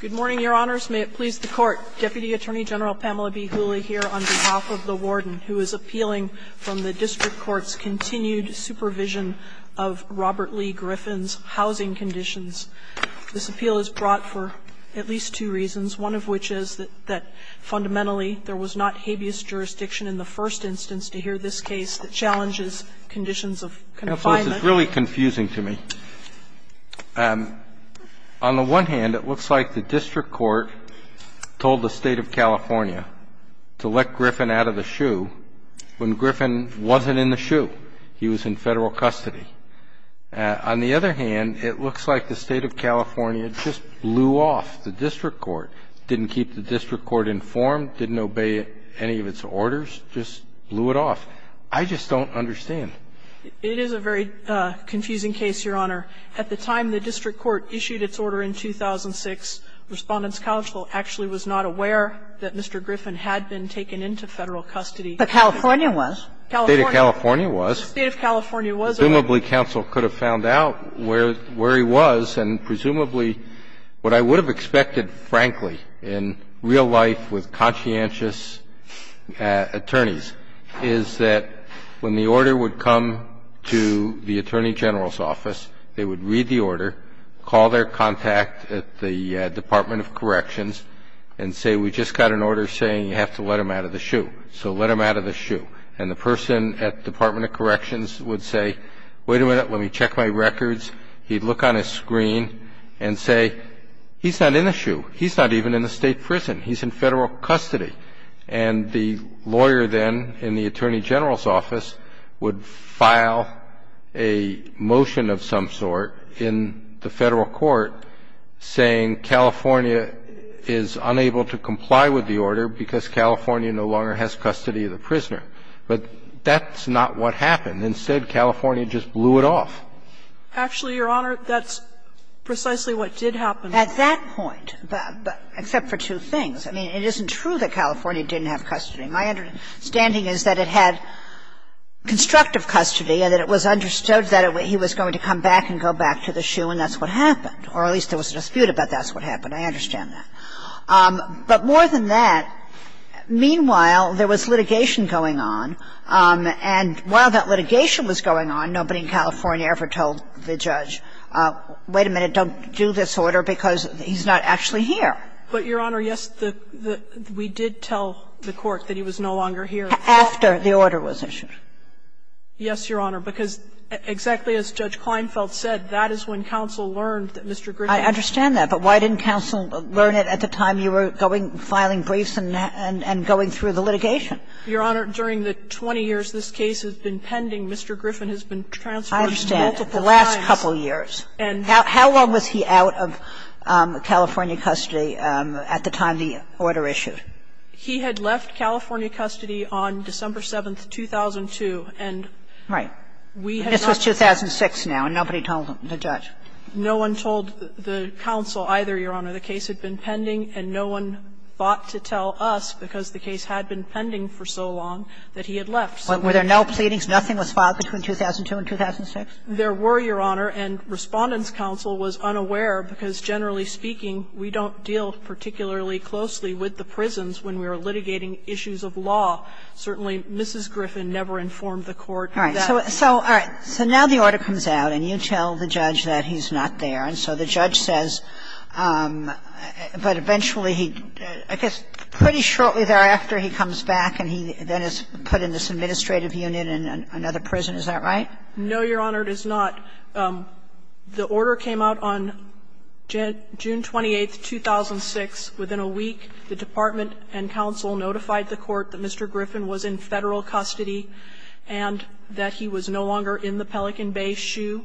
Good morning, Your Honors. May it please the Court, Deputy Attorney General Pamela B. Hooley here on behalf of the Warden, who is appealing from the District Court's continued supervision of Robert Lee Griffin's housing conditions. This appeal is brought for at least two reasons, one of which is that fundamentally there was not habeas jurisdiction in the first instance to hear this case that challenges conditions of confinement. So this is really confusing to me. On the one hand, it looks like the District Court told the State of California to let Griffin out of the shoe when Griffin wasn't in the shoe. He was in Federal custody. On the other hand, it looks like the State of California just blew off the District Court, didn't keep the District Court informed, didn't obey any of its orders, just blew it off. I just don't understand. It is a very confusing case, Your Honor. At the time the District Court issued its order in 2006, Respondent's counsel actually was not aware that Mr. Griffin had been taken into Federal custody. But California was. California. The State of California was. The State of California was. Presumably, counsel could have found out where he was, and presumably what I would have expected, frankly, in real life with conscientious attorneys, is that when the attorney general's office, they would read the order, call their contact at the Department of Corrections, and say, we just got an order saying you have to let him out of the shoe. So let him out of the shoe. And the person at the Department of Corrections would say, wait a minute, let me check my records. He'd look on his screen and say, he's not in the shoe. He's not even in the State prison. He's in Federal custody. And the lawyer then in the attorney general's office would file a motion of some sort in the Federal court saying California is unable to comply with the order because California no longer has custody of the prisoner. But that's not what happened. Instead, California just blew it off. Actually, Your Honor, that's precisely what did happen. At that point, except for two things. I mean, it isn't true that California didn't have custody. My understanding is that it had constructive custody and that it was understood that he was going to come back and go back to the shoe, and that's what happened, or at least there was a dispute about that's what happened. I understand that. But more than that, meanwhile, there was litigation going on. And while that litigation was going on, nobody in California ever told the judge, wait a minute, don't do this order because he's not actually here. But, Your Honor, yes, we did tell the court that he was no longer here. After the order was issued. Yes, Your Honor. Because exactly as Judge Kleinfeld said, that is when counsel learned that Mr. Griffin I understand that. But why didn't counsel learn it at the time you were going, filing briefs and going through the litigation? Your Honor, during the 20 years this case has been pending, Mr. Griffin has been transferred multiple times. The last couple years. How long was he out of California custody at the time the order issued? He had left California custody on December 7th, 2002, and we had not told him. Right. This was 2006 now, and nobody told the judge. No one told the counsel either, Your Honor. The case had been pending, and no one thought to tell us, because the case had been pending for so long, that he had left. Were there no pleadings? Nothing was filed between 2002 and 2006? There were, Your Honor. And Respondent's counsel was unaware, because generally speaking, we don't deal particularly closely with the prisons when we are litigating issues of law. Certainly, Mrs. Griffin never informed the court that. All right. So now the order comes out, and you tell the judge that he's not there. And so the judge says, but eventually he, I guess pretty shortly thereafter he comes back and he then is put in this administrative unit in another prison. Is that right? No, Your Honor, it is not. The order came out on June 28th, 2006. Within a week, the department and counsel notified the court that Mr. Griffin was in Federal custody and that he was no longer in the Pelican Bay shoe.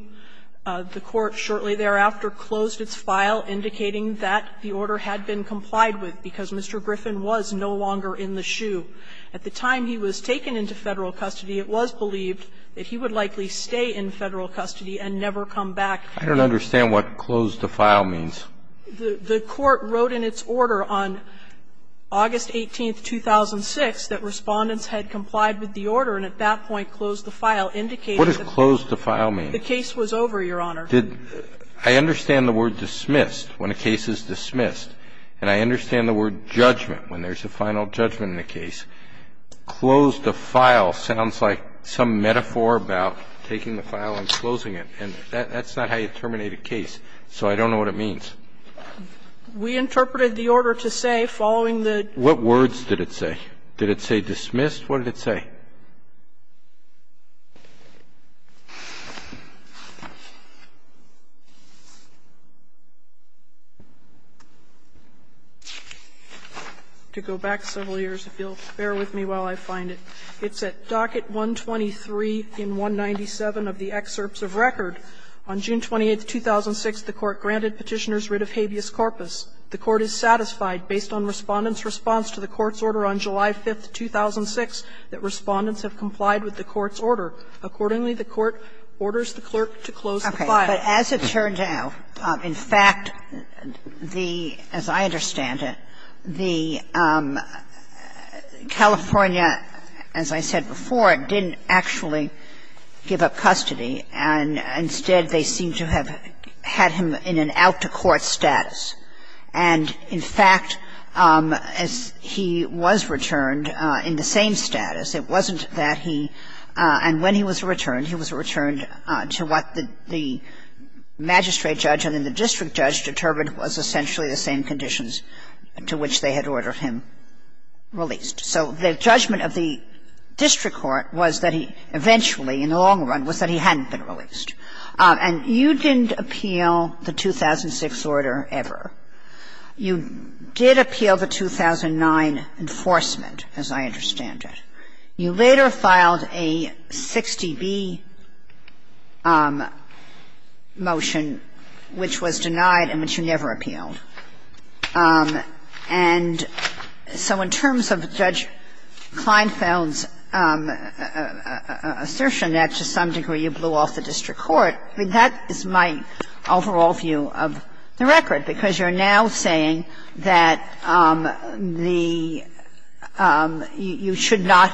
The court shortly thereafter closed its file, indicating that the order had been complied with, because Mr. Griffin was no longer in the shoe. At the time he was taken into Federal custody, it was believed that he would likely stay in Federal custody and never come back. I don't understand what close the file means. The court wrote in its order on August 18th, 2006, that Respondent's had complied with the order and at that point closed the file, indicating that the case was over, Your Honor. I understand the word dismissed, when a case is dismissed. And I understand the word judgment, when there's a final judgment in a case. Close the file sounds like some metaphor about taking the file and closing it. And that's not how you terminate a case. So I don't know what it means. We interpreted the order to say, following the. What words did it say? Did it say dismissed? What did it say? To go back several years, if you'll bear with me while I find it. It's at docket 123 in 197 of the excerpts of record. On June 28th, 2006, the court granted Petitioner's writ of habeas corpus. The court is satisfied, based on Respondent's response to the court's order on July 5th, 2006, that Respondent's have complied with the court's order. Accordingly, the court orders the clerk to close the file. But as it turned out, in fact, the, as I understand it, the California, as I said before, didn't actually give up custody. And instead, they seem to have had him in an out-to-court status. And in fact, as he was returned in the same status, it wasn't that he, and when he was returned, he was returned to what the magistrate judge and then the district judge determined was essentially the same conditions to which they had ordered him released. So the judgment of the district court was that he eventually, in the long run, was that he hadn't been released. And you didn't appeal the 2006 order ever. You did appeal the 2009 enforcement, as I understand it. You later filed a 60B motion, which was denied and which you never appealed. And so in terms of Judge Kleinfeld's assertion that to some degree you blew off the district court, I mean, that is my overall view of the record, because you're now saying that the – you should not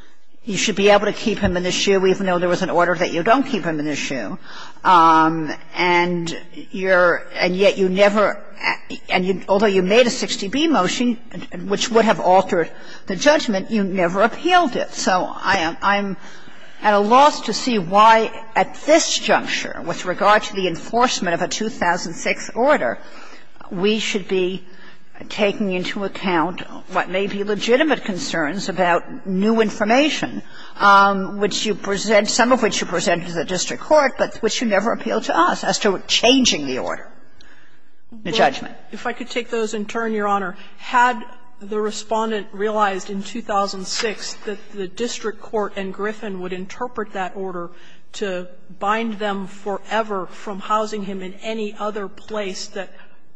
– you should be able to keep him in the shoe even though there was an order that you don't keep him in the shoe. And you're – and yet you never – and although you made a 60B motion, which would have altered the judgment, you never appealed it. So I'm at a loss to see why at this juncture, with regard to the enforcement of a 2006 order, we should be taking into account what may be legitimate concerns about new information, which you present – some of which you present to the district court but which you never appeal to us as to changing the order, the judgment. If I could take those in turn, Your Honor, had the Respondent realized in 2006 that the district court and Griffin would interpret that order to bind them forever from housing him in any other place that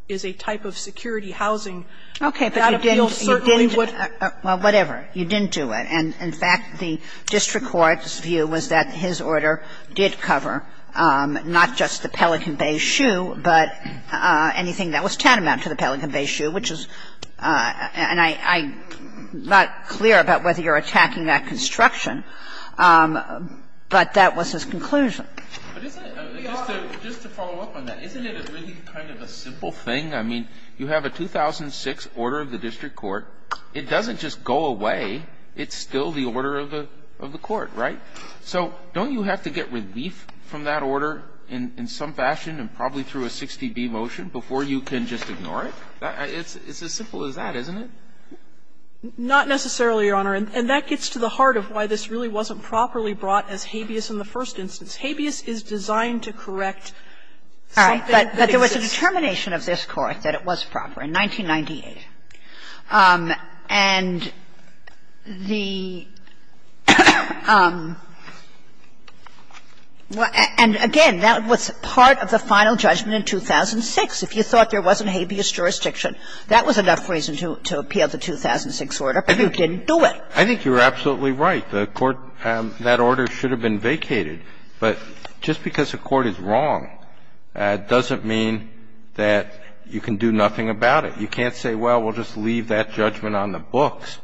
is a type of security housing, that appeal certainly would – Kagan. Well, whatever. You didn't do it. And in fact, the district court's view was that his order did cover not just the Pelican Bay shoe, but anything that was tantamount to the Pelican Bay shoe, which is – and I'm not clear about whether you're attacking that construction, but that was his conclusion. Just to follow up on that, isn't it a really kind of a simple thing? I mean, you have a 2006 order of the district court. It doesn't just go away. It's still the order of the court, right? So don't you have to get relief from that order in some fashion and probably through a 60B motion before you can just ignore it? It's as simple as that, isn't it? Not necessarily, Your Honor. And that gets to the heart of why this really wasn't properly brought as habeas in the first instance. Habeas is designed to correct something that exists. All right. But there was a determination of this Court that it was proper in 1998. And the – and again, that was part of the final judgment in 2006. If you thought there wasn't habeas jurisdiction, that was enough reason to appeal the 2006 order, but you didn't do it. I think you're absolutely right. The court – that order should have been vacated. But just because a court is wrong doesn't mean that you can do nothing about it. You can't say, well, we'll just leave that judgment on the books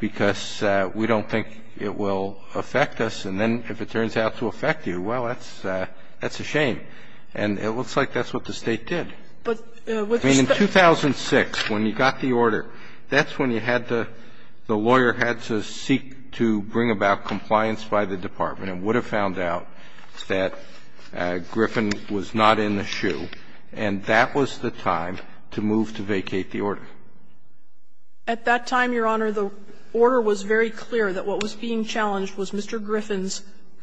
because we don't think it will affect us. And then if it turns out to affect you, well, that's a shame. And it looks like that's what the State did. I mean, in 2006, when you got the order, that's when you had to – the lawyer had to seek to bring about compliance by the department and would have found out that Griffin was not in the shoe, and that was the time to move to vacate the order. At that time, Your Honor, the order was very clear that what was being challenged was Mr. Griffin's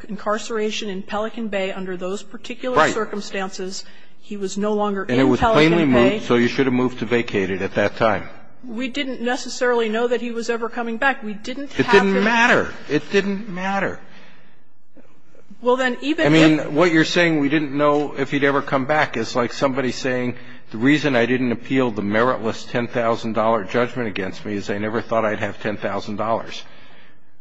incarceration in Pelican Bay under those particular circumstances. He was no longer in Pelican Bay. And it was plainly moved, so you should have moved to vacate it at that time. We didn't necessarily know that he was ever coming back. We didn't have to. It didn't matter. It didn't matter. Well, then even if – I mean, what you're saying, we didn't know if he'd ever come back, is like somebody saying the reason I didn't appeal the meritless $10,000 judgment against me is I never thought I'd have $10,000.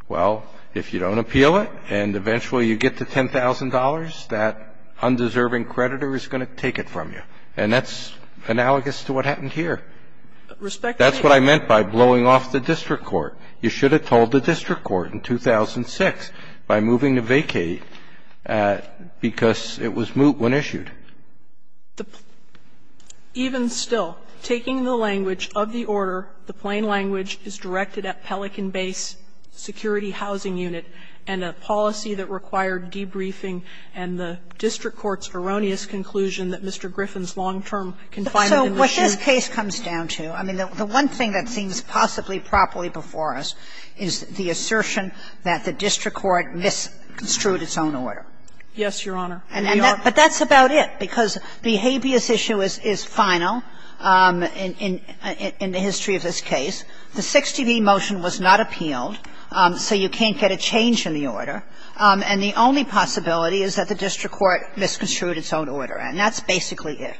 Well, if you don't appeal it and eventually you get the $10,000, that undeserving creditor is going to take it from you, and that's analogous to what happened here. That's what I meant by blowing off the district court. You should have told the district court in 2006 by moving to vacate because it was moot when issued. Even still, taking the language of the order, the plain language is directed at Pelican Base Security Housing Unit and a policy that required debriefing and the district court's erroneous conclusion that Mr. Griffin's long-term confinement was due. So what this case comes down to – I mean, the one thing that seems possibly properly before us is the assertion that the district court misconstrued its own order. Yes, Your Honor. But that's about it, because the habeas issue is final in the history of this case. The 60B motion was not appealed, so you can't get a change in the order. And the only possibility is that the district court misconstrued its own order, and that's basically it.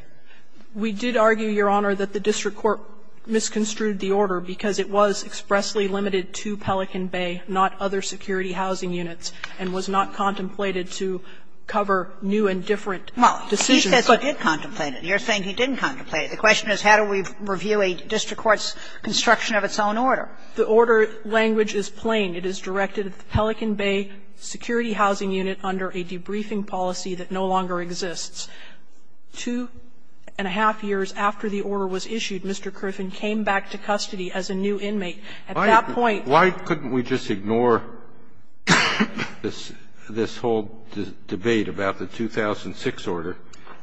We did argue, Your Honor, that the district court misconstrued the order because it was expressly limited to Pelican Bay, not other security housing units, and was not contemplated to cover new and different decisions. Well, he said he did contemplate it. You're saying he didn't contemplate it. The question is, how do we review a district court's construction of its own order? The order language is plain. It is directed at the Pelican Bay security housing unit under a debriefing policy that no longer exists. Two and a half years after the order was issued, Mr. Griffin came back to custody as a new inmate. At that point – Why couldn't we just ignore this whole debate about the 2006 order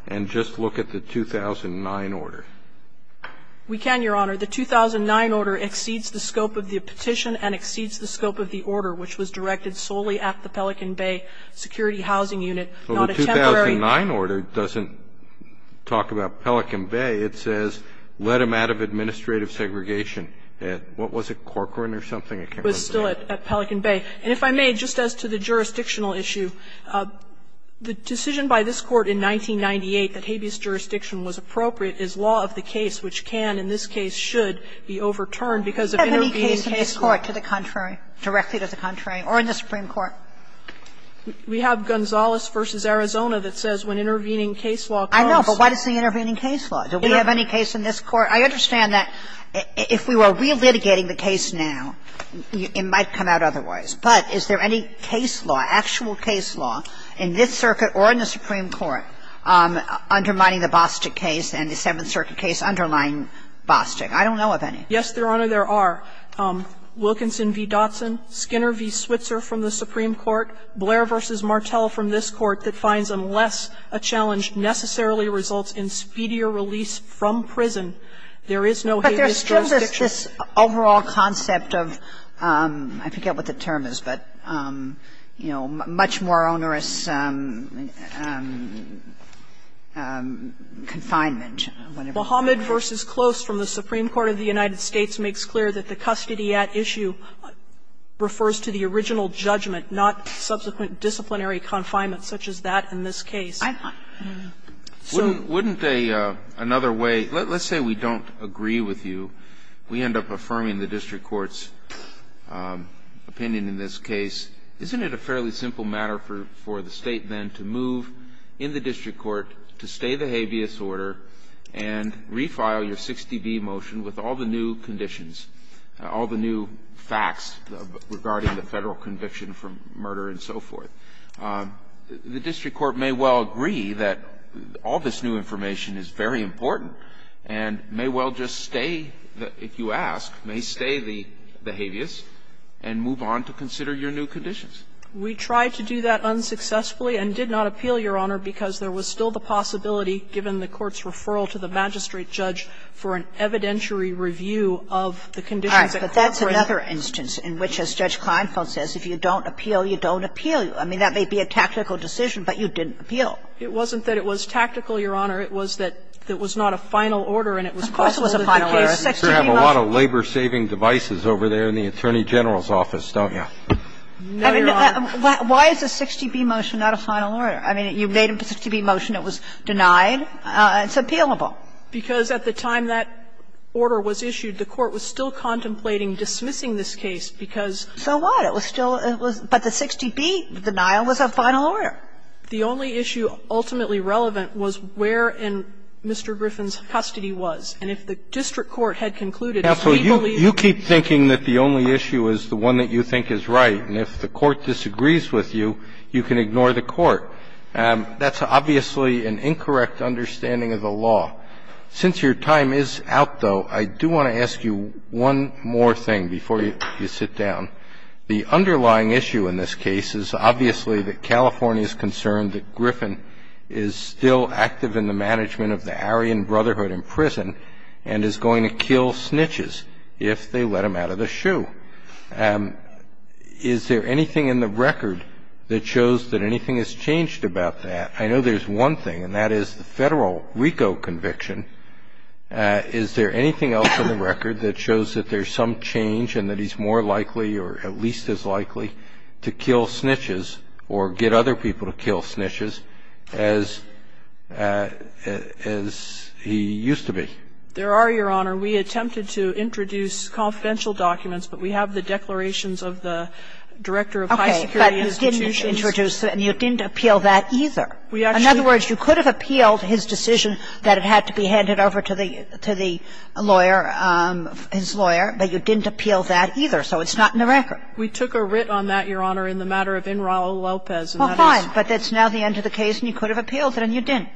and just look at the 2009 order? We can, Your Honor. The 2009 order exceeds the scope of the petition and exceeds the scope of the order, which was directed solely at the Pelican Bay security housing unit, not a temporary order. Well, the 2009 order doesn't talk about Pelican Bay. It says, let him out of administrative segregation at, what was it, Corcoran or something? It came from Pelican Bay. It was still at Pelican Bay. And if I may, just as to the jurisdictional issue, the decision by this Court in 1998 that habeas jurisdiction was appropriate is law of the case, which can, in this case should, be overturned because of intervening case law. Do we have any case in the Court to the contrary, directly to the contrary, or in the Supreme Court? We have Gonzales v. Arizona that says when intervening case law comes to the contrary. I know, but what is the intervening case law? Do we have any case in this Court? I understand that if we were re-litigating the case now, it might come out otherwise. But is there any case law, actual case law, in this circuit or in the Supreme Court undermining the Bostic case and the Seventh Circuit case underlying Bostic? I don't know of any. Yes, Your Honor, there are. Wilkinson v. Dotson, Skinner v. Switzer from the Supreme Court, Blair v. Martel from this Court that finds unless a challenge necessarily results in speedier release from prison, there is no habeas jurisdiction. But there's still this overall concept of – I forget what the term is, but, you know, confinement, whatever you want to call it. Bahamut v. Close from the Supreme Court of the United States makes clear that the custody at issue refers to the original judgment, not subsequent disciplinary confinement such as that in this case. Wouldn't a – another way – let's say we don't agree with you. We end up affirming the district court's opinion in this case. Isn't it a fairly simple matter for the State then to move in the district court to stay the habeas order and refile your 60B motion with all the new conditions, all the new facts regarding the Federal conviction for murder and so forth? The district court may well agree that all this new information is very important and may well just stay, if you ask, may stay the habeas and move on to the next case. don't agree with you on the new conditions. We tried to do that unsuccessfully and did not appeal, Your Honor, because there was still the possibility given the court's referral to the magistrate judge for an evidentiary review of the conditions that corresponded. All right. But that's another instance in which, as Judge Kleinfeld says, if you don't appeal, you don't appeal. I mean, that may be a tactical decision, but you didn't appeal. It wasn't that it was tactical, Your Honor. It was that it was not a final order, and it was possible that the case 60B motion Of course it was a final order. You sure have a lot of labor-saving devices over there in the Attorney General's office, don't you? No, Your Honor. Why is a 60B motion not a final order? I mean, you made a 60B motion. It was denied. It's appealable. Because at the time that order was issued, the court was still contemplating dismissing this case because So what? But it was still, but the 60B denial was a final order. The only issue ultimately relevant was where in Mr. Griffin's custody was. And if the district court had concluded that he believed Counsel, you keep thinking that the only issue is the one that you think is right. And if the court disagrees with you, you can ignore the court. That's obviously an incorrect understanding of the law. Since your time is out, though, I do want to ask you one more thing before you sit down. The underlying issue in this case is obviously that California is concerned that Griffin is still active in the management of the Aryan Brotherhood in prison and is going to kill snitches if they let him out of the shoe. Is there anything in the record that shows that anything has changed about that? I know there's one thing, and that is the Federal RICO conviction. Is there anything else in the record that shows that there's some change and that it's more likely or at least as likely to kill snitches or get other people to kill snitches as he used to be? There are, Your Honor. We attempted to introduce confidential documents, but we have the declarations of the Director of High Security Institutions. Okay, but you didn't introduce it and you didn't appeal that either. In other words, you could have appealed his decision that it had to be handed over to the lawyer, his lawyer, but you didn't appeal that either, so it's not in the record. We took a writ on that, Your Honor, in the matter of in Raul Lopez, and that is Well, fine, but that's now the end of the case and you could have appealed it and you didn't.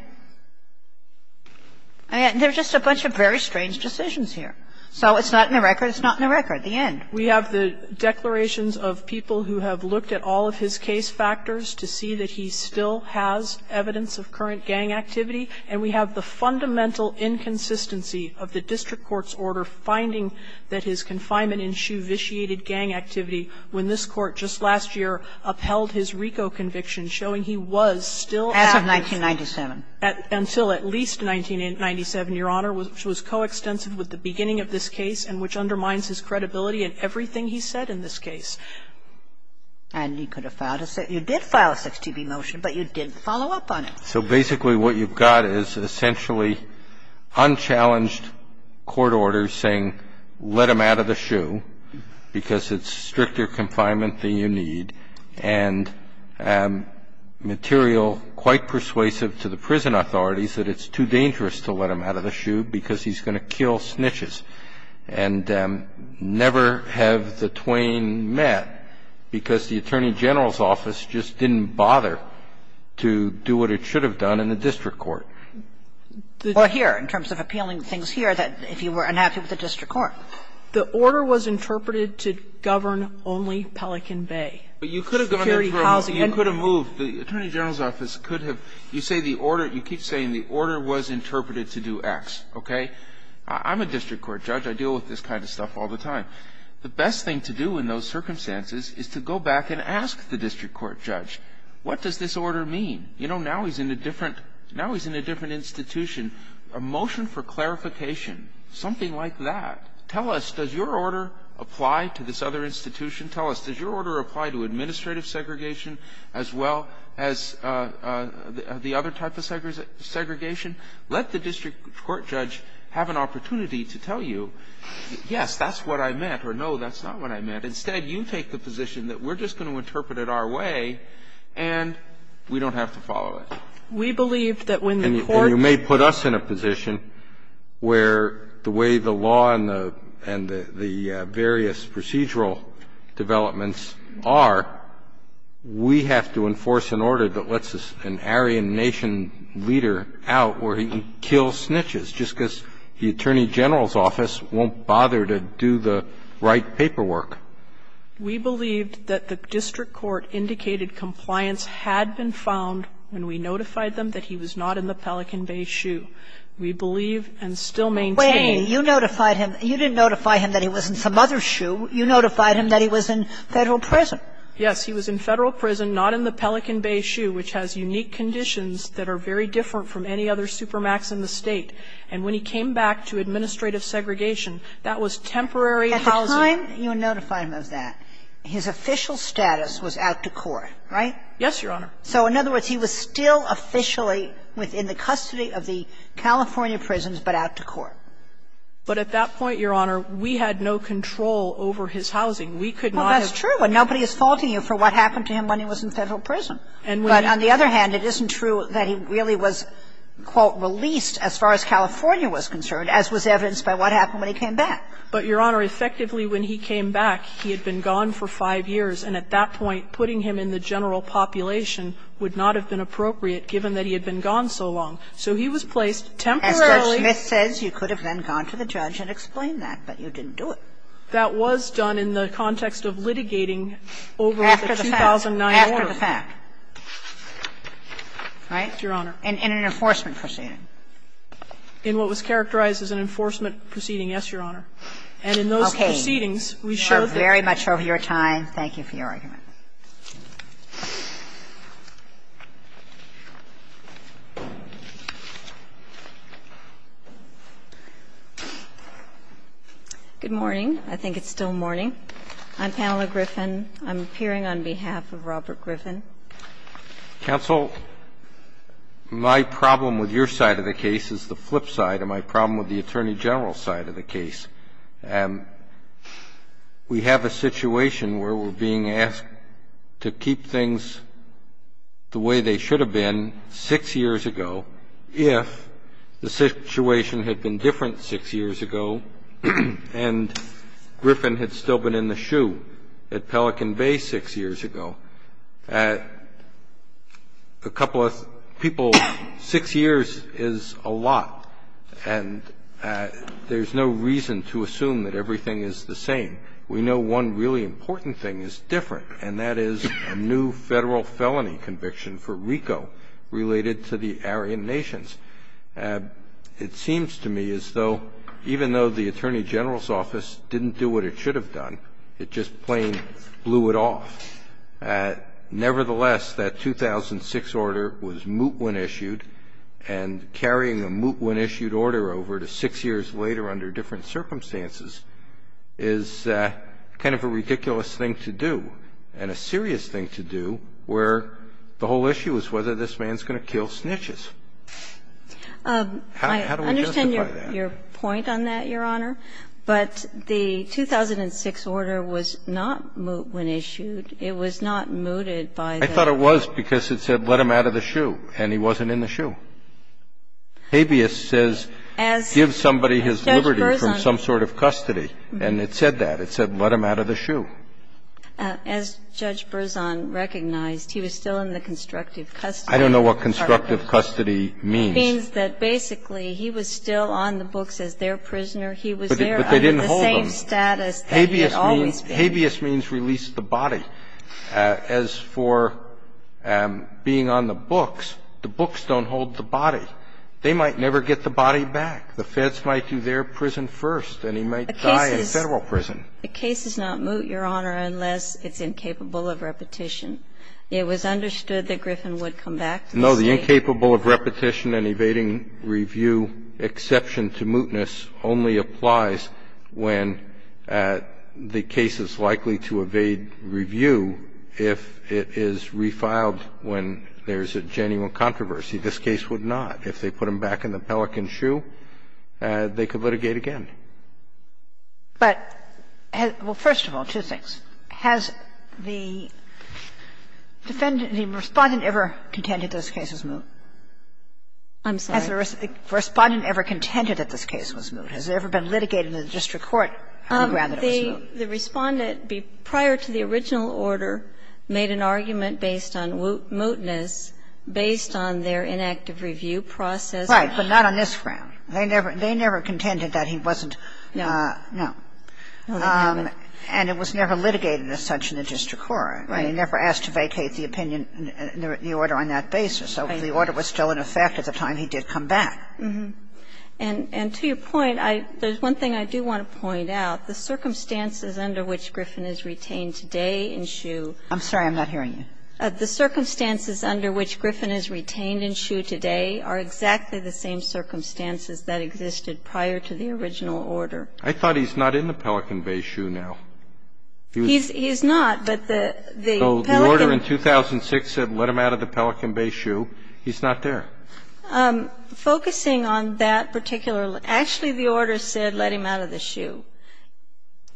I mean, there's just a bunch of very strange decisions here. So it's not in the record, it's not in the record, the end. We have the declarations of people who have looked at all of his case factors to see that he still has evidence of current gang activity, and we have the fundamental inconsistency of the district court's order finding that his confinement in Shoe vitiated gang activity when this Court just last year upheld his RICO conviction, showing he was still active. As of 1997. Until at least 1997, Your Honor, which was coextensive with the beginning of this case and which undermines his credibility in everything he said in this case. And you could have filed a six to be motion, but you didn't follow up on it. So basically what you've got is essentially unchallenged court orders saying let him out of the shoe because it's stricter confinement than you need and material quite persuasive to the prison authorities that it's too dangerous to let him out of the shoe because he's going to kill snitches and never have the Twain met because the prison authorities are going to kill him. And you could have done that in the district court. Kagan. Well, here, in terms of appealing things here, if you were unhappy with the district court. The order was interpreted to govern only Pelican Bay. But you could have gone through a move. The attorney general's office could have you say the order you keep saying the order was interpreted to do X, okay? I'm a district court judge. I deal with this kind of stuff all the time. The best thing to do in those circumstances is to go back and ask the district court judge, what does this order mean? You know, now he's in a different institution. A motion for clarification, something like that. Tell us, does your order apply to this other institution? Tell us, does your order apply to administrative segregation as well as the other type of segregation? Let the district court judge have an opportunity to tell you, yes, that's what I meant. Or, no, that's not what I meant. Instead, you take the position that we're just going to interpret it our way, and we don't have to follow it. We believe that when the court. And you may put us in a position where the way the law and the various procedural developments are, we have to enforce an order that lets an Aryan nation leader out where he can kill snitches, just because the attorney general's office won't bother to do the right paperwork. We believed that the district court indicated compliance had been found when we notified them that he was not in the Pelican Bay Shoe. We believe and still maintain. Wait. You notified him. You didn't notify him that he was in some other shoe. You notified him that he was in Federal prison. Yes. He was in Federal prison, not in the Pelican Bay Shoe, which has unique conditions that are very different from any other supermax in the State. And when he came back to administrative segregation, that was temporary housing. At the time you notified him of that, his official status was out to court, right? Yes, Your Honor. So, in other words, he was still officially within the custody of the California prisons, but out to court. But at that point, Your Honor, we had no control over his housing. We could not have. Well, that's true. And nobody is faulting you for what happened to him when he was in Federal prison. But on the other hand, it isn't true that he really was, quote, released as far as California was concerned, as was evidenced by what happened when he came back. But, Your Honor, effectively, when he came back, he had been gone for five years. And at that point, putting him in the general population would not have been appropriate given that he had been gone so long. So he was placed temporarily. As Judge Smith says, you could have then gone to the judge and explained that, but you didn't do it. That was done in the context of litigating over the 2009 order. After the fact. Right? Your Honor. And in an enforcement proceeding. In what was characterized as an enforcement proceeding, yes, Your Honor. And in those proceedings, we showed that. Okay. We are very much over your time. Thank you for your argument. Good morning. I think it's still morning. I'm Pamela Griffin. I'm appearing on behalf of Robert Griffin. Counsel, my problem with your side of the case is the flip side of my problem with the Attorney General's side of the case. We have a situation where we're being asked to keep things the way they should have been six years ago if the situation had been different six years ago and Griffin had still been in the shoe at Pelican Bay six years ago. A couple of people, six years is a lot and there's no reason to assume that everything is the same. We know one really important thing is different and that is a new federal felony conviction for RICO related to the Aryan Nations. It seems to me as though even though the Attorney General's office didn't do what it should have done, it just plain blew it off. Nevertheless, that 2006 order was moot when issued and carrying a moot when issued order over to six years later under different circumstances is kind of a ridiculous thing to do and a serious thing to do where the whole issue is whether this man is going to kill snitches. How do we justify that? I understand your point on that, Your Honor, but the 2006 order was not moot when issued. It was not mooted by the law. I thought it was because it said let him out of the shoe and he wasn't in the shoe. Habeas says give somebody his liberty from some sort of custody and it said that. It said let him out of the shoe. As Judge Berzon recognized, he was still in the constructive custody. I don't know what constructive custody means. It means that basically he was still on the books as their prisoner. He was there under the same status that he had always been. Habeas means release the body. As for being on the books, the books don't hold the body. They might never get the body back. The feds might do their prison first and he might die in Federal prison. A case is not moot, Your Honor, unless it's incapable of repetition. It was understood that Griffin would come back to the State. The fact that it's incapable of repetition and evading review exception to mootness only applies when the case is likely to evade review if it is refiled when there's a genuine controversy. This case would not. If they put him back in the Pelican shoe, they could litigate again. But, well, first of all, two things. Has the defendant, the Respondent, ever contended that this case was moot? I'm sorry? Has the Respondent ever contended that this case was moot? Has there ever been litigating in the district court on the ground that it was moot? The Respondent, prior to the original order, made an argument based on mootness based on their inactive review process. Right, but not on this ground. They never contended that he wasn't moot. No. No. And it was never litigated as such in the district court. Right. And he never asked to vacate the opinion, the order on that basis. So the order was still in effect at the time he did come back. And to your point, there's one thing I do want to point out. The circumstances under which Griffin is retained today in shoe. I'm sorry, I'm not hearing you. The circumstances under which Griffin is retained in shoe today are exactly the same circumstances that existed prior to the original order. I thought he's not in the Pelican Bay shoe now. He's not, but the Pelican Bay. So the order in 2006 said let him out of the Pelican Bay shoe. He's not there. Focusing on that particular order. Actually, the order said let him out of the shoe.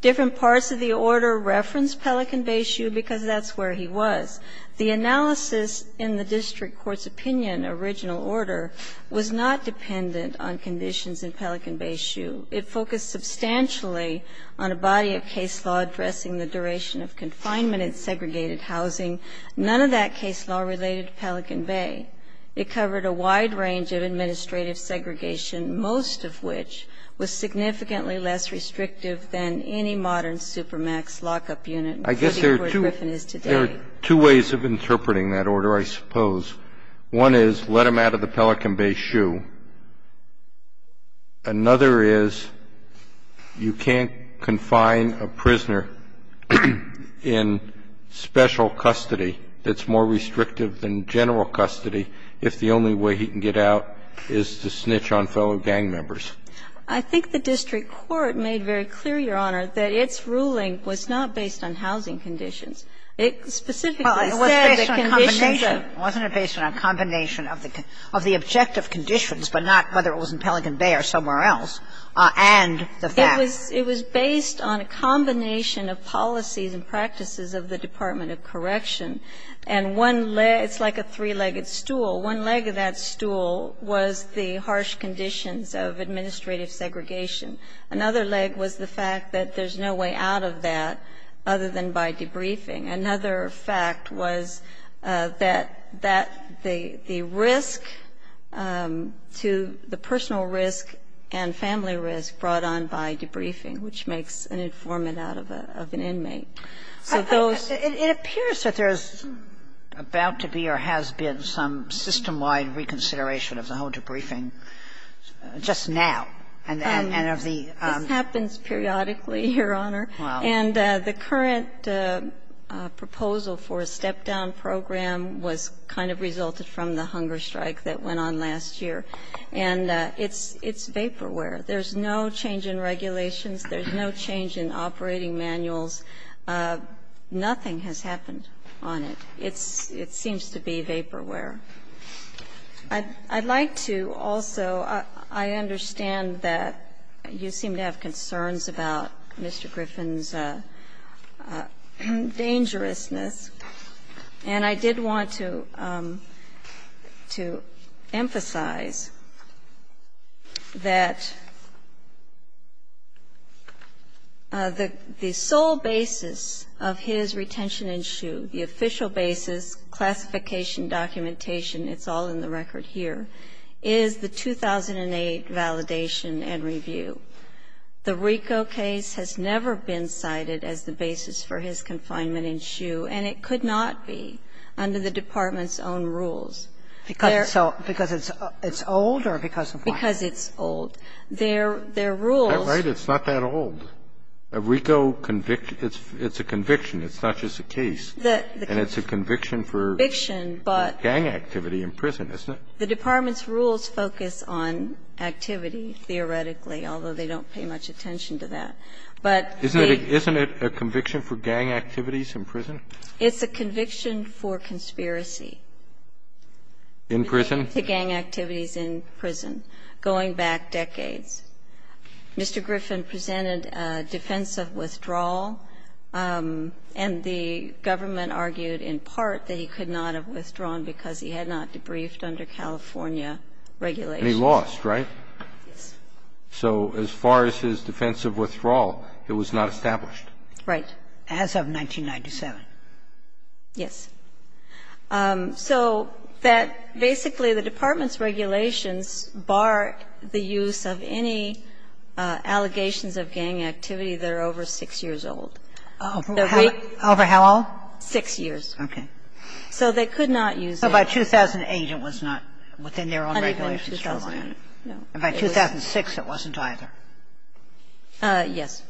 Different parts of the order referenced Pelican Bay shoe because that's where he was. The analysis in the district court's opinion, original order, was not dependent on conditions in Pelican Bay shoe. It focused substantially on a body of case law addressing the duration of confinement in segregated housing. None of that case law related to Pelican Bay. It covered a wide range of administrative segregation, most of which was significantly less restrictive than any modern supermax lockup unit before the Court of Griffin is today. There are two ways of interpreting that order, I suppose. One is let him out of the Pelican Bay shoe. Another is you can't confine a prisoner in special custody that's more restrictive than general custody if the only way he can get out is to snitch on fellow gang members. I think the district court made very clear, Your Honor, that its ruling was not based on housing conditions. It specifically said the conditions of the conditions of the objective conditions of the objective conditions, but not whether it was in Pelican Bay or somewhere else, and the fact. It was based on a combination of policies and practices of the Department of Correction, and one leg of that stool was the harsh conditions of administrative segregation. Another leg was the fact that there's no way out of that other than by debriefing. Another fact was that the risk to the personal risk and family risk brought on by debriefing, which makes an informant out of an inmate. Sotomayor, it appears that there's about to be or has been some system-wide reconsideration of the whole debriefing just now, and of the. This happens periodically, Your Honor. Wow. And the current proposal for a step-down program was kind of resulted from the hunger strike that went on last year, and it's vaporware. There's no change in regulations. There's no change in operating manuals. Nothing has happened on it. It's seems to be vaporware. I'd like to also, I understand that you seem to have concerns about Mr. Griffin's dangerousness, and I did want to emphasize that the sole basis of his retention in shoe, the official basis, classification, documentation, it's all in the record here, is the 2008 validation and review. The RICO case has never been cited as the basis for his confinement in shoe, and it could not be under the Department's own rules. Because it's old or because of what? Because it's old. Their rules. That's right. It's not that old. A RICO conviction, it's a conviction. It's not just a case. And it's a conviction for gang activity in prison, isn't it? The Department's rules focus on activity, theoretically, although they don't pay much attention to that. But they do. Isn't it a conviction for gang activities in prison? It's a conviction for conspiracy. In prison? To gang activities in prison, going back decades. Mr. Griffin presented a defense of withdrawal, and the government argued in part that he could not have withdrawn because he had not debriefed under California regulations. And he lost, right? Yes. So as far as his defense of withdrawal, it was not established. Right. As of 1997. Yes. So that basically the Department's regulations bar the use of any allegations of gang activity that are over 6 years old. Over how old? 6 years. Okay. So they could not use that. So by 2008, it was not within their own regulations. Under 2000, no. And by 2006, it wasn't either. Yes.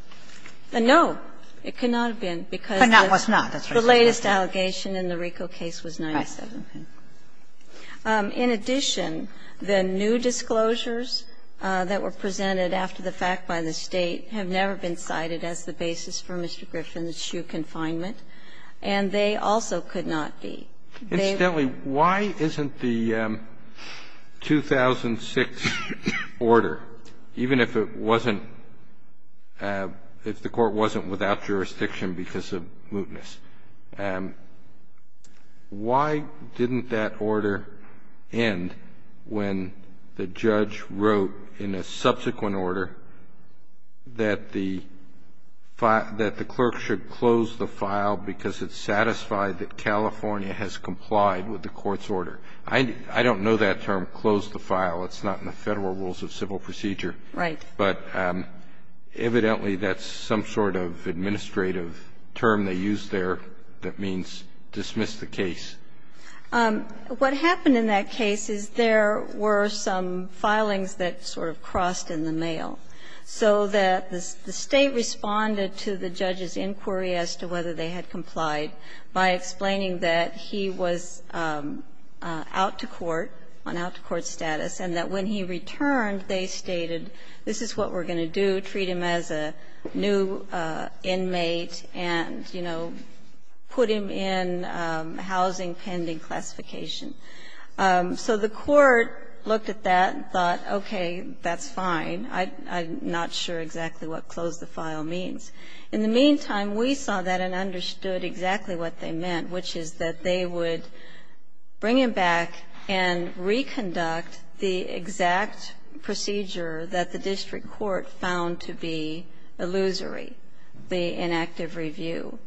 No, it could not have been because the latest allegation in the RICO case was 1997. In addition, the new disclosures that were presented after the fact by the State have never been cited as the basis for Mr. Griffin's true confinement. And they also could not be. Incidentally, why isn't the 2006 order, even if it wasn't, if the court wasn't without jurisdiction because of mootness, why didn't that order end when the judge wrote in a subsequent order that the clerk should close the file because it satisfied that California has complied with the court's order? I don't know that term, close the file. It's not in the Federal Rules of Civil Procedure. Right. But evidently, that's some sort of administrative term they used there that means dismiss the case. What happened in that case is there were some filings that sort of crossed in the mail, so that the State responded to the judge's inquiry as to whether they had complied by explaining that he was out to court, on out-to-court status, and that when he returned, they stated, this is what we're going to do, treat him as a new inmate and, you know, put him in housing pending classification. So the court looked at that and thought, okay, that's fine. I'm not sure exactly what close the file means. In the meantime, we saw that and understood exactly what they meant, which is that they would bring him back and reconduct the exact procedure that the district court found to be illusory, the inactive review.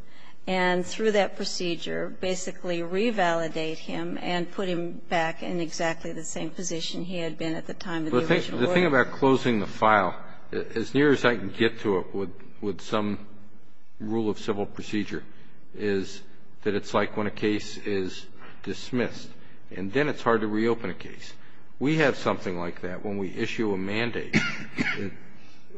And through that procedure, basically revalidate him and put him back in exactly the same position he had been at the time of the original order. The thing about closing the file, as near as I can get to it with some rule of civil procedure, is that it's like when a case is dismissed, and then it's hard to reopen a case. We have something like that when we issue a mandate.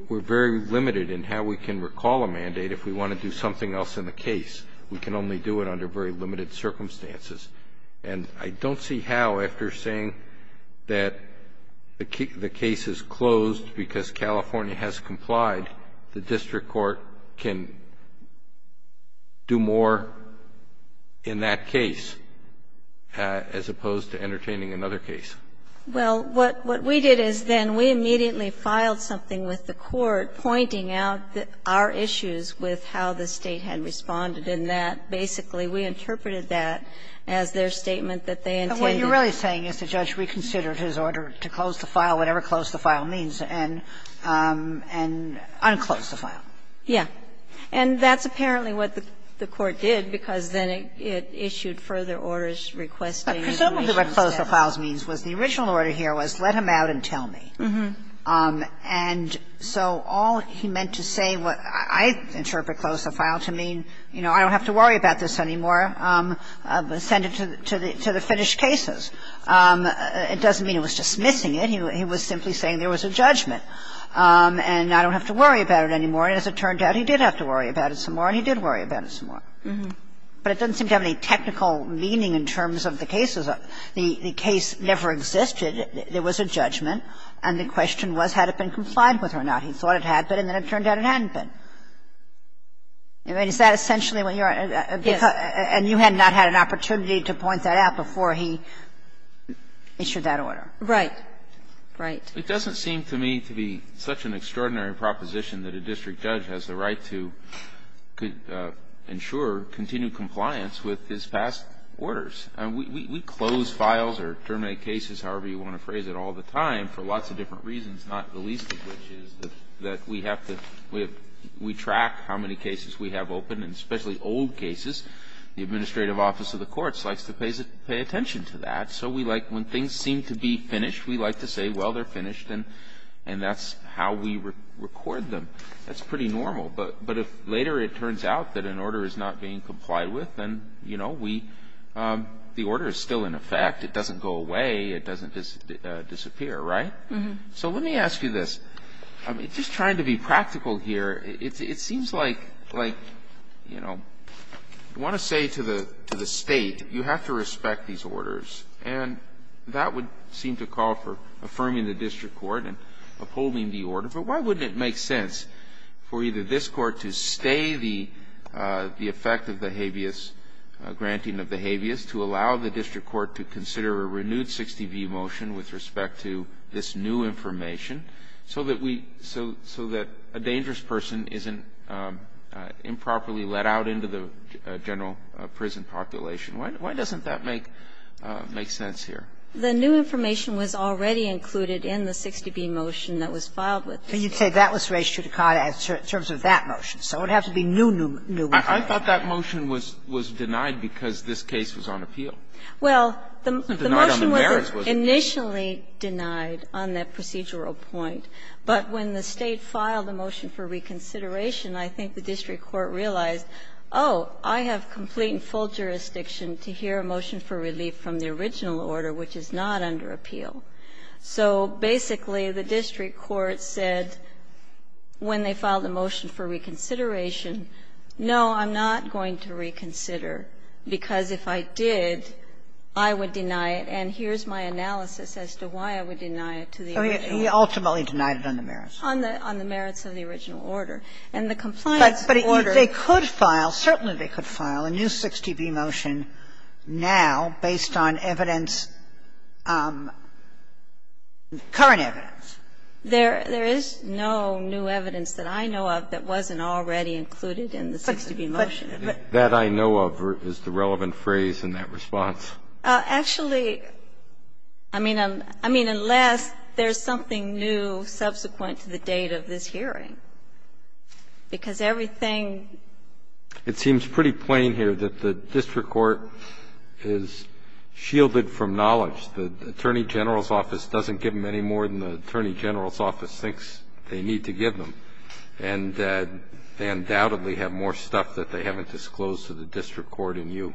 We're very limited in how we can recall a mandate if we want to do something else in the case. We can only do it under very limited circumstances. And I don't see how, after saying that the case is closed because California has complied, the district court can do more in that case as opposed to entertaining another case. Well, what we did is then we immediately filed something with the court pointing out our issues with how the State had responded, and that basically we interpreted that as their statement that they intended. And what you're really saying is the judge reconsidered his order to close the file, whatever close the file means, and unclosed the file. Yeah. And that's apparently what the court did, because then it issued further orders requesting the original set. Presumably what close the file means was the original order here was let him out and tell me. And so all he meant to say what I interpret close the file to mean, you know, I don't have to worry about this anymore, send it to the finished cases. It doesn't mean it was dismissing it. He was simply saying there was a judgment, and I don't have to worry about it anymore. And as it turned out, he did have to worry about it some more, and he did worry about it some more. But it doesn't seem to have any technical meaning in terms of the cases. The case never existed. There was a judgment, and the question was had it been complied with or not. He thought it had been, and then it turned out it hadn't been. I mean, is that essentially what you're at? Yes. And you had not had an opportunity to point that out before he issued that order. Right. Right. It doesn't seem to me to be such an extraordinary proposition that a district judge has the right to ensure continued compliance with his past orders. We close files or terminate cases, however you want to phrase it, all the time for lots of different reasons, not the least of which is that we have to, we track how many cases we have open, and especially old cases. The administrative office of the courts likes to pay attention to that. So we like, when things seem to be finished, we like to say, well, they're finished, and that's how we record them. That's pretty normal, but if later it turns out that an order is not being complied with, then, you know, we, the order is still in effect. It doesn't go away. It doesn't disappear. Right? So let me ask you this. I mean, just trying to be practical here, it seems like, you know, you want to say to the State, you have to respect these orders, and that would seem to call for affirming the district court and upholding the order. But why wouldn't it make sense for either this court to stay the effect of the Habeas, granting of the Habeas, to allow the district court to consider a renewed 60B motion with respect to this new information, so that we, so that a dangerous person isn't improperly let out into the general prison population? Why doesn't that make sense here? The new information was already included in the 60B motion that was filed with the district court. But you'd say that was raised to the contrary in terms of that motion, so it would have to be a new motion. I thought that motion was denied because this case was on appeal. Denied on the merits was it? Well, the motion was initially denied on that procedural point. But when the State filed a motion for reconsideration, I think the district court realized, oh, I have complete and full jurisdiction to hear a motion for relief from the original order, which is not under appeal. So basically, the district court said, when they filed a motion for reconsideration, no, I'm not going to reconsider, because if I did, I would deny it, and here's my analysis as to why I would deny it to the original order. Oh, you ultimately denied it on the merits. On the merits of the original order. And the compliance order was not denied. But they could file, certainly they could file a new 60B motion now based on evidence of current evidence. And I don't know if that's included in the 60B motion. But that I know of is the relevant phrase in that response. Actually, I mean, unless there's something new subsequent to the date of this hearing. Because everything It seems pretty plain here that the district court is shielded from knowledge. The Attorney General's office doesn't give them any more than the Attorney General's office thinks they need to give them. And they undoubtedly have more stuff that they haven't disclosed to the district court and you.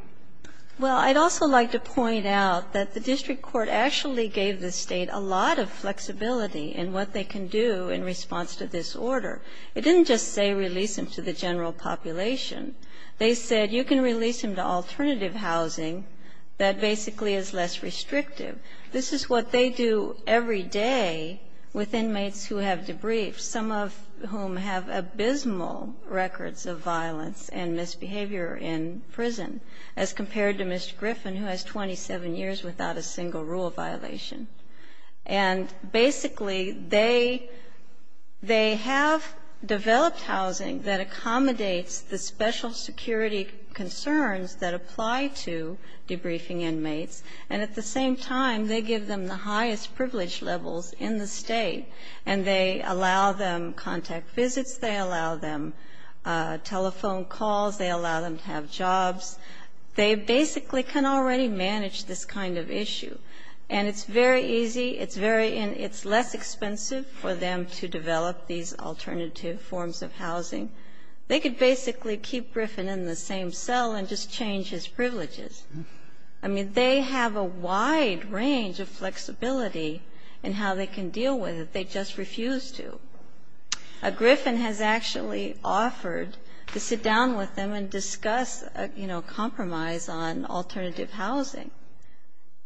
Well, I'd also like to point out that the district court actually gave the State a lot of flexibility in what they can do in response to this order. It didn't just say release them to the general population. They said you can release them to alternative housing that basically is less restrictive. This is what they do every day with inmates who have debriefs, some of whom have abysmal records of violence and misbehavior in prison, as compared to Mr. Griffin, who has 27 years without a single rule violation. And basically, they have developed housing that accommodates the special security concerns that apply to debriefing inmates, and at the same time, they give them the highest privilege levels in the State. And they allow them contact visits, they allow them telephone calls, they allow them to have jobs. They basically can already manage this kind of issue. And it's very easy, it's very easy, and it's less expensive for them to develop these alternative forms of housing. They could basically keep Griffin in the same cell and just change his privileges. I mean, they have a wide range of flexibility in how they can deal with it. They just refuse to. Griffin has actually offered to sit down with them and discuss, you know, compromise on alternative housing.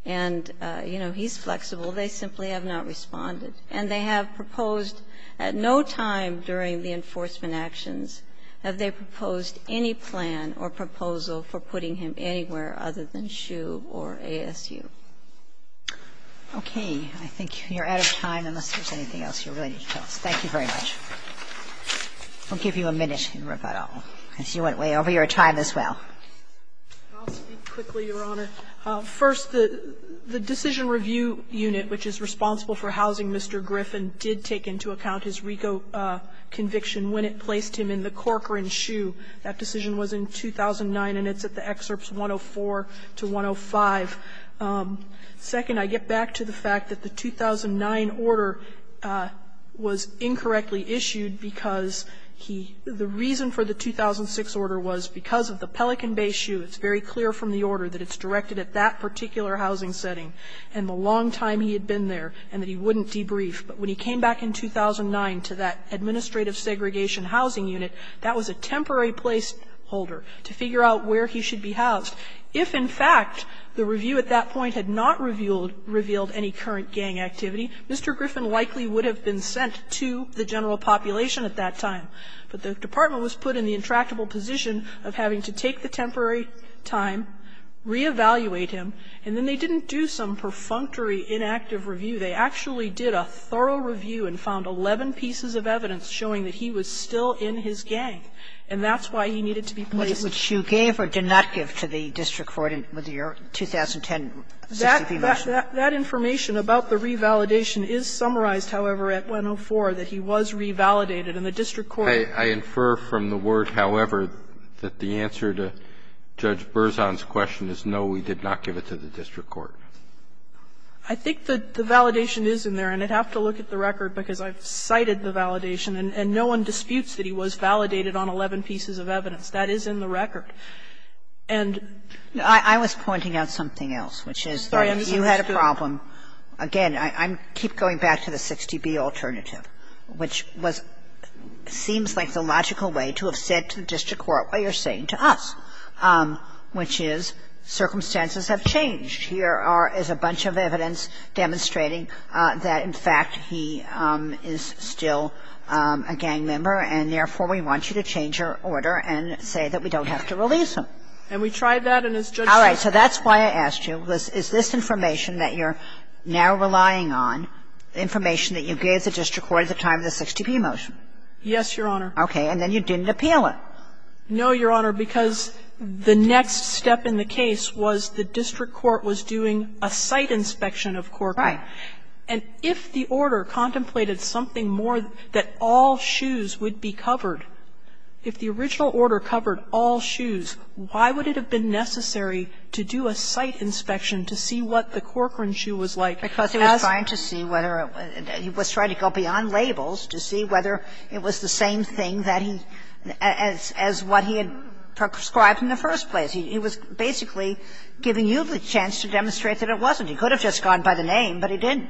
And, you know, he's flexible. They simply have not responded. And they have proposed at no time during the enforcement actions have they proposed any plan or proposal for putting him anywhere other than SHU or ASU. Okay. I think you're out of time unless there's anything else you really need to tell us. Thank you very much. We'll give you a minute in rebuttal, because you went way over your time as well. I'll speak quickly, Your Honor. First, the decision review unit, which is responsible for housing Mr. Griffin, did take into account his RICO conviction when it placed him in the Corker and SHU. That decision was in 2009, and it's at the excerpts 104 to 105. Second, I get back to the fact that the 2009 order was incorrectly issued because he, the reason for the 2006 order was because of the Pelican Bay SHU. It's very clear from the order that it's directed at that particular housing setting and the long time he had been there and that he wouldn't debrief. But when he came back in 2009 to that administrative segregation housing unit, that was a temporary place holder to figure out where he should be housed. If, in fact, the review at that point had not revealed any current gang activity, Mr. Griffin likely would have been sent to the general population at that time. But the department was put in the intractable position of having to take the temporary time, reevaluate him, and then they didn't do some perfunctory inactive review. They actually did a thorough review and found 11 pieces of evidence showing that he was still in his gang, and that's why he needed to be placed. Sotomayor, which you gave or did not give to the district court in your 2010 CCB measure. That information about the revalidation is summarized, however, at 104, that he was revalidated, and the district court. I infer from the word, however, that the answer to Judge Berzon's question is no, we did not give it to the district court. I think the validation is in there, and I'd have to look at the record because I've cited the validation, and no one disputes that he was validated on 11 pieces of evidence. That is in the record. And the other thing is that the district court has said that he is still a gang member and, therefore, we want you to change your order, and that's what we're going to do. And I'm not going to go back to the 60B alternative, which seems like the logical way to have said to the district court what you're saying to us, which is circumstances have changed. Here are as a bunch of evidence demonstrating that, in fact, he is still a gang member and, therefore, we want you to change your order and say that we don't have to release him. And we tried that, and as Judge Sotomayor said to us, we're not going to do that. All right. So that's why I asked you, is this information that you're now relying on, information that you gave the district court at the time of the 60B motion? Yes, Your Honor. Okay. And then you didn't appeal it. No, Your Honor, because the next step in the case was the district court was doing a site inspection of Cork. Right. And if the order contemplated something more that all shoes would be covered, if the original order covered all shoes, why would it have been necessary to do a site inspection to see what the Corcoran shoe was like? Because he was trying to see whether it was going to go beyond labels to see whether it was the same thing that he as what he had prescribed in the first place. He was basically giving you the chance to demonstrate that it wasn't. He could have just gone by the name, but he didn't.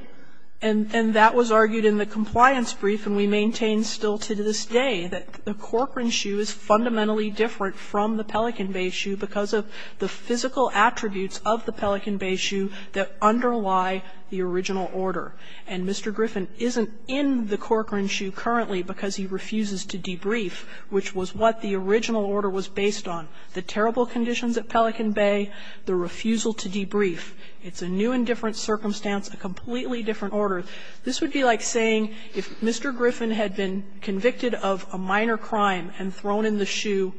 And that was argued in the compliance brief, and we maintain still to this day that the Corcoran shoe is fundamentally different from the Pelican Bay shoe because of the physical attributes of the Pelican Bay shoe that underlie the original order. And Mr. Griffin isn't in the Corcoran shoe currently because he refuses to debrief, which was what the original order was based on. The terrible conditions at Pelican Bay, the refusal to debrief. It's a new and different circumstance, a completely different order. This would be like saying if Mr. Griffin had been convicted of a minor crime and thrown in the shoe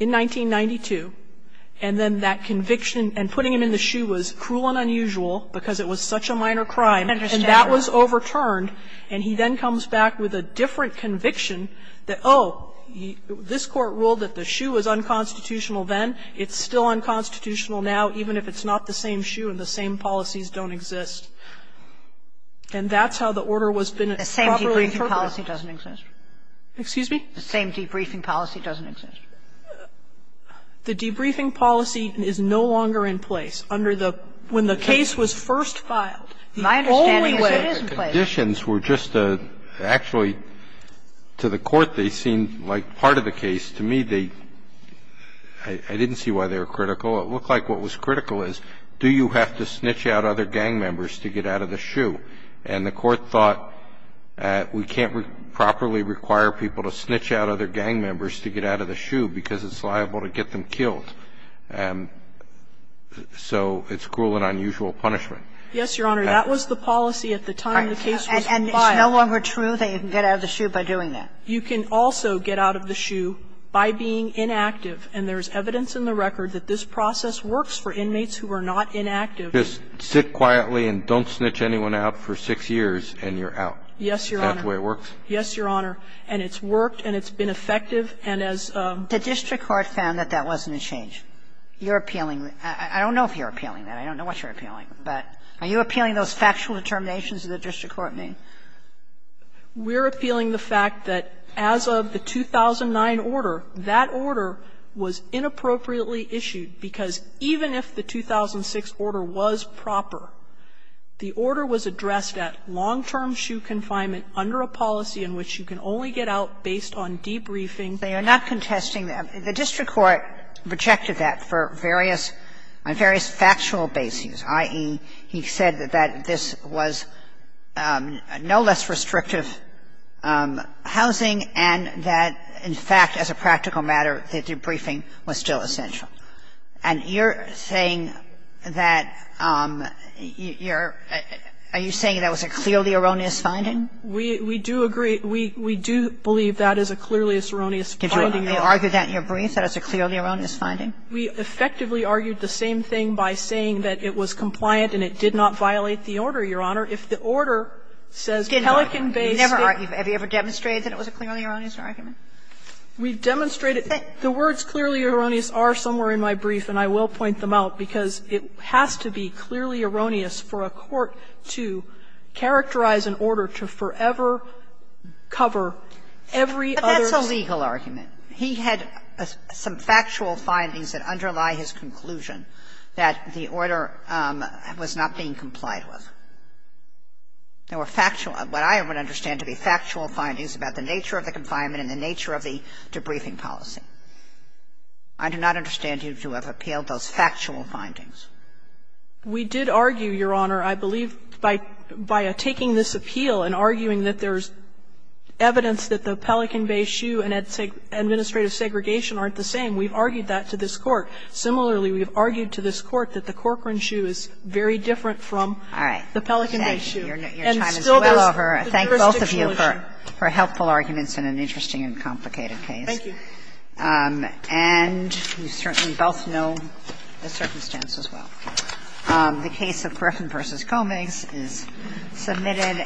in 1992, and then that conviction and putting him in the shoe was cruel and unusual because it was such a minor crime, and that was overturned, and he then comes back with a different conviction that, oh, this Court ruled that the shoe was unconstitutional then, it's still unconstitutional now, even if it's not the same shoe and the same policies don't exist. And that's how the order was properly interpreted. Sotomayor, the same debriefing policy doesn't exist. The debriefing policy is no longer in place under the – when the case was first filed. The only way that the conditions were just a – actually, to the Court, they seemed like part of the case. To me, they – I didn't see why they were critical. It looked like what was critical is, do you have to snitch out other gang members to get out of the shoe? And the Court thought, we can't properly require people to snitch out other gang members to get out of the shoe because it's liable to get them killed. So it's cruel and unusual punishment. Yes, Your Honor. That was the policy at the time the case was filed. And it's no longer true that you can get out of the shoe by doing that? You can also get out of the shoe by being inactive. And there's evidence in the record that this process works for inmates who are not inactive. Just sit quietly and don't snitch anyone out for six years and you're out? Yes, Your Honor. That's the way it works? Yes, Your Honor. And it's worked and it's been effective. And as a – The district court found that that wasn't a change. You're appealing – I don't know if you're appealing that. I don't know what you're appealing. But are you appealing those factual determinations that the district court made? We're appealing the fact that as of the 2009 order, that order was inappropriately issued because even if the 2006 order was proper, the order was addressed at long-term shoe confinement under a policy in which you can only get out based on debriefing. They are not contesting that. The district court rejected that for various – on various factual bases, i.e., the fact that the district court said that debriefing was essential, that debriefing was essential, and that debriefing was essential. And you're saying that this was no less restrictive housing and that, in fact, as a practical matter, the debriefing was still essential. And you're saying that you're – are you saying that was a clearly erroneous finding? We do agree – we do believe that is a clearly erroneous finding. Did you argue that in your brief, that it's a clearly erroneous finding? We effectively argued the same thing by saying that it was compliant and it did not violate the order, Your Honor. If the order says Pelican Bay State – Have you ever demonstrated that it was a clearly erroneous argument? We've demonstrated – the words clearly erroneous are somewhere in my brief, and I will point them out, because it has to be clearly erroneous for a court to characterize an order to forever cover every other legal argument. He had some factual findings that underlie his conclusion that the order was not being complied with. There were factual – what I would understand to be factual findings about the nature of the confinement and the nature of the debriefing policy. I do not understand you to have appealed those factual findings. We did argue, Your Honor, I believe, by taking this appeal and arguing that there's evidence that the Pelican Bay shoe and administrative segregation aren't the same. We've argued that to this Court. Similarly, we've argued to this Court that the Corcoran shoe is very different from the Pelican Bay shoe. All right. Your time is well over. And still there's the jurisdictional issue. I thank both of you for helpful arguments in an interesting and complicated case. Thank you. And we've certainly both known the circumstance as well. The case of Corcoran v. Comings is submitted.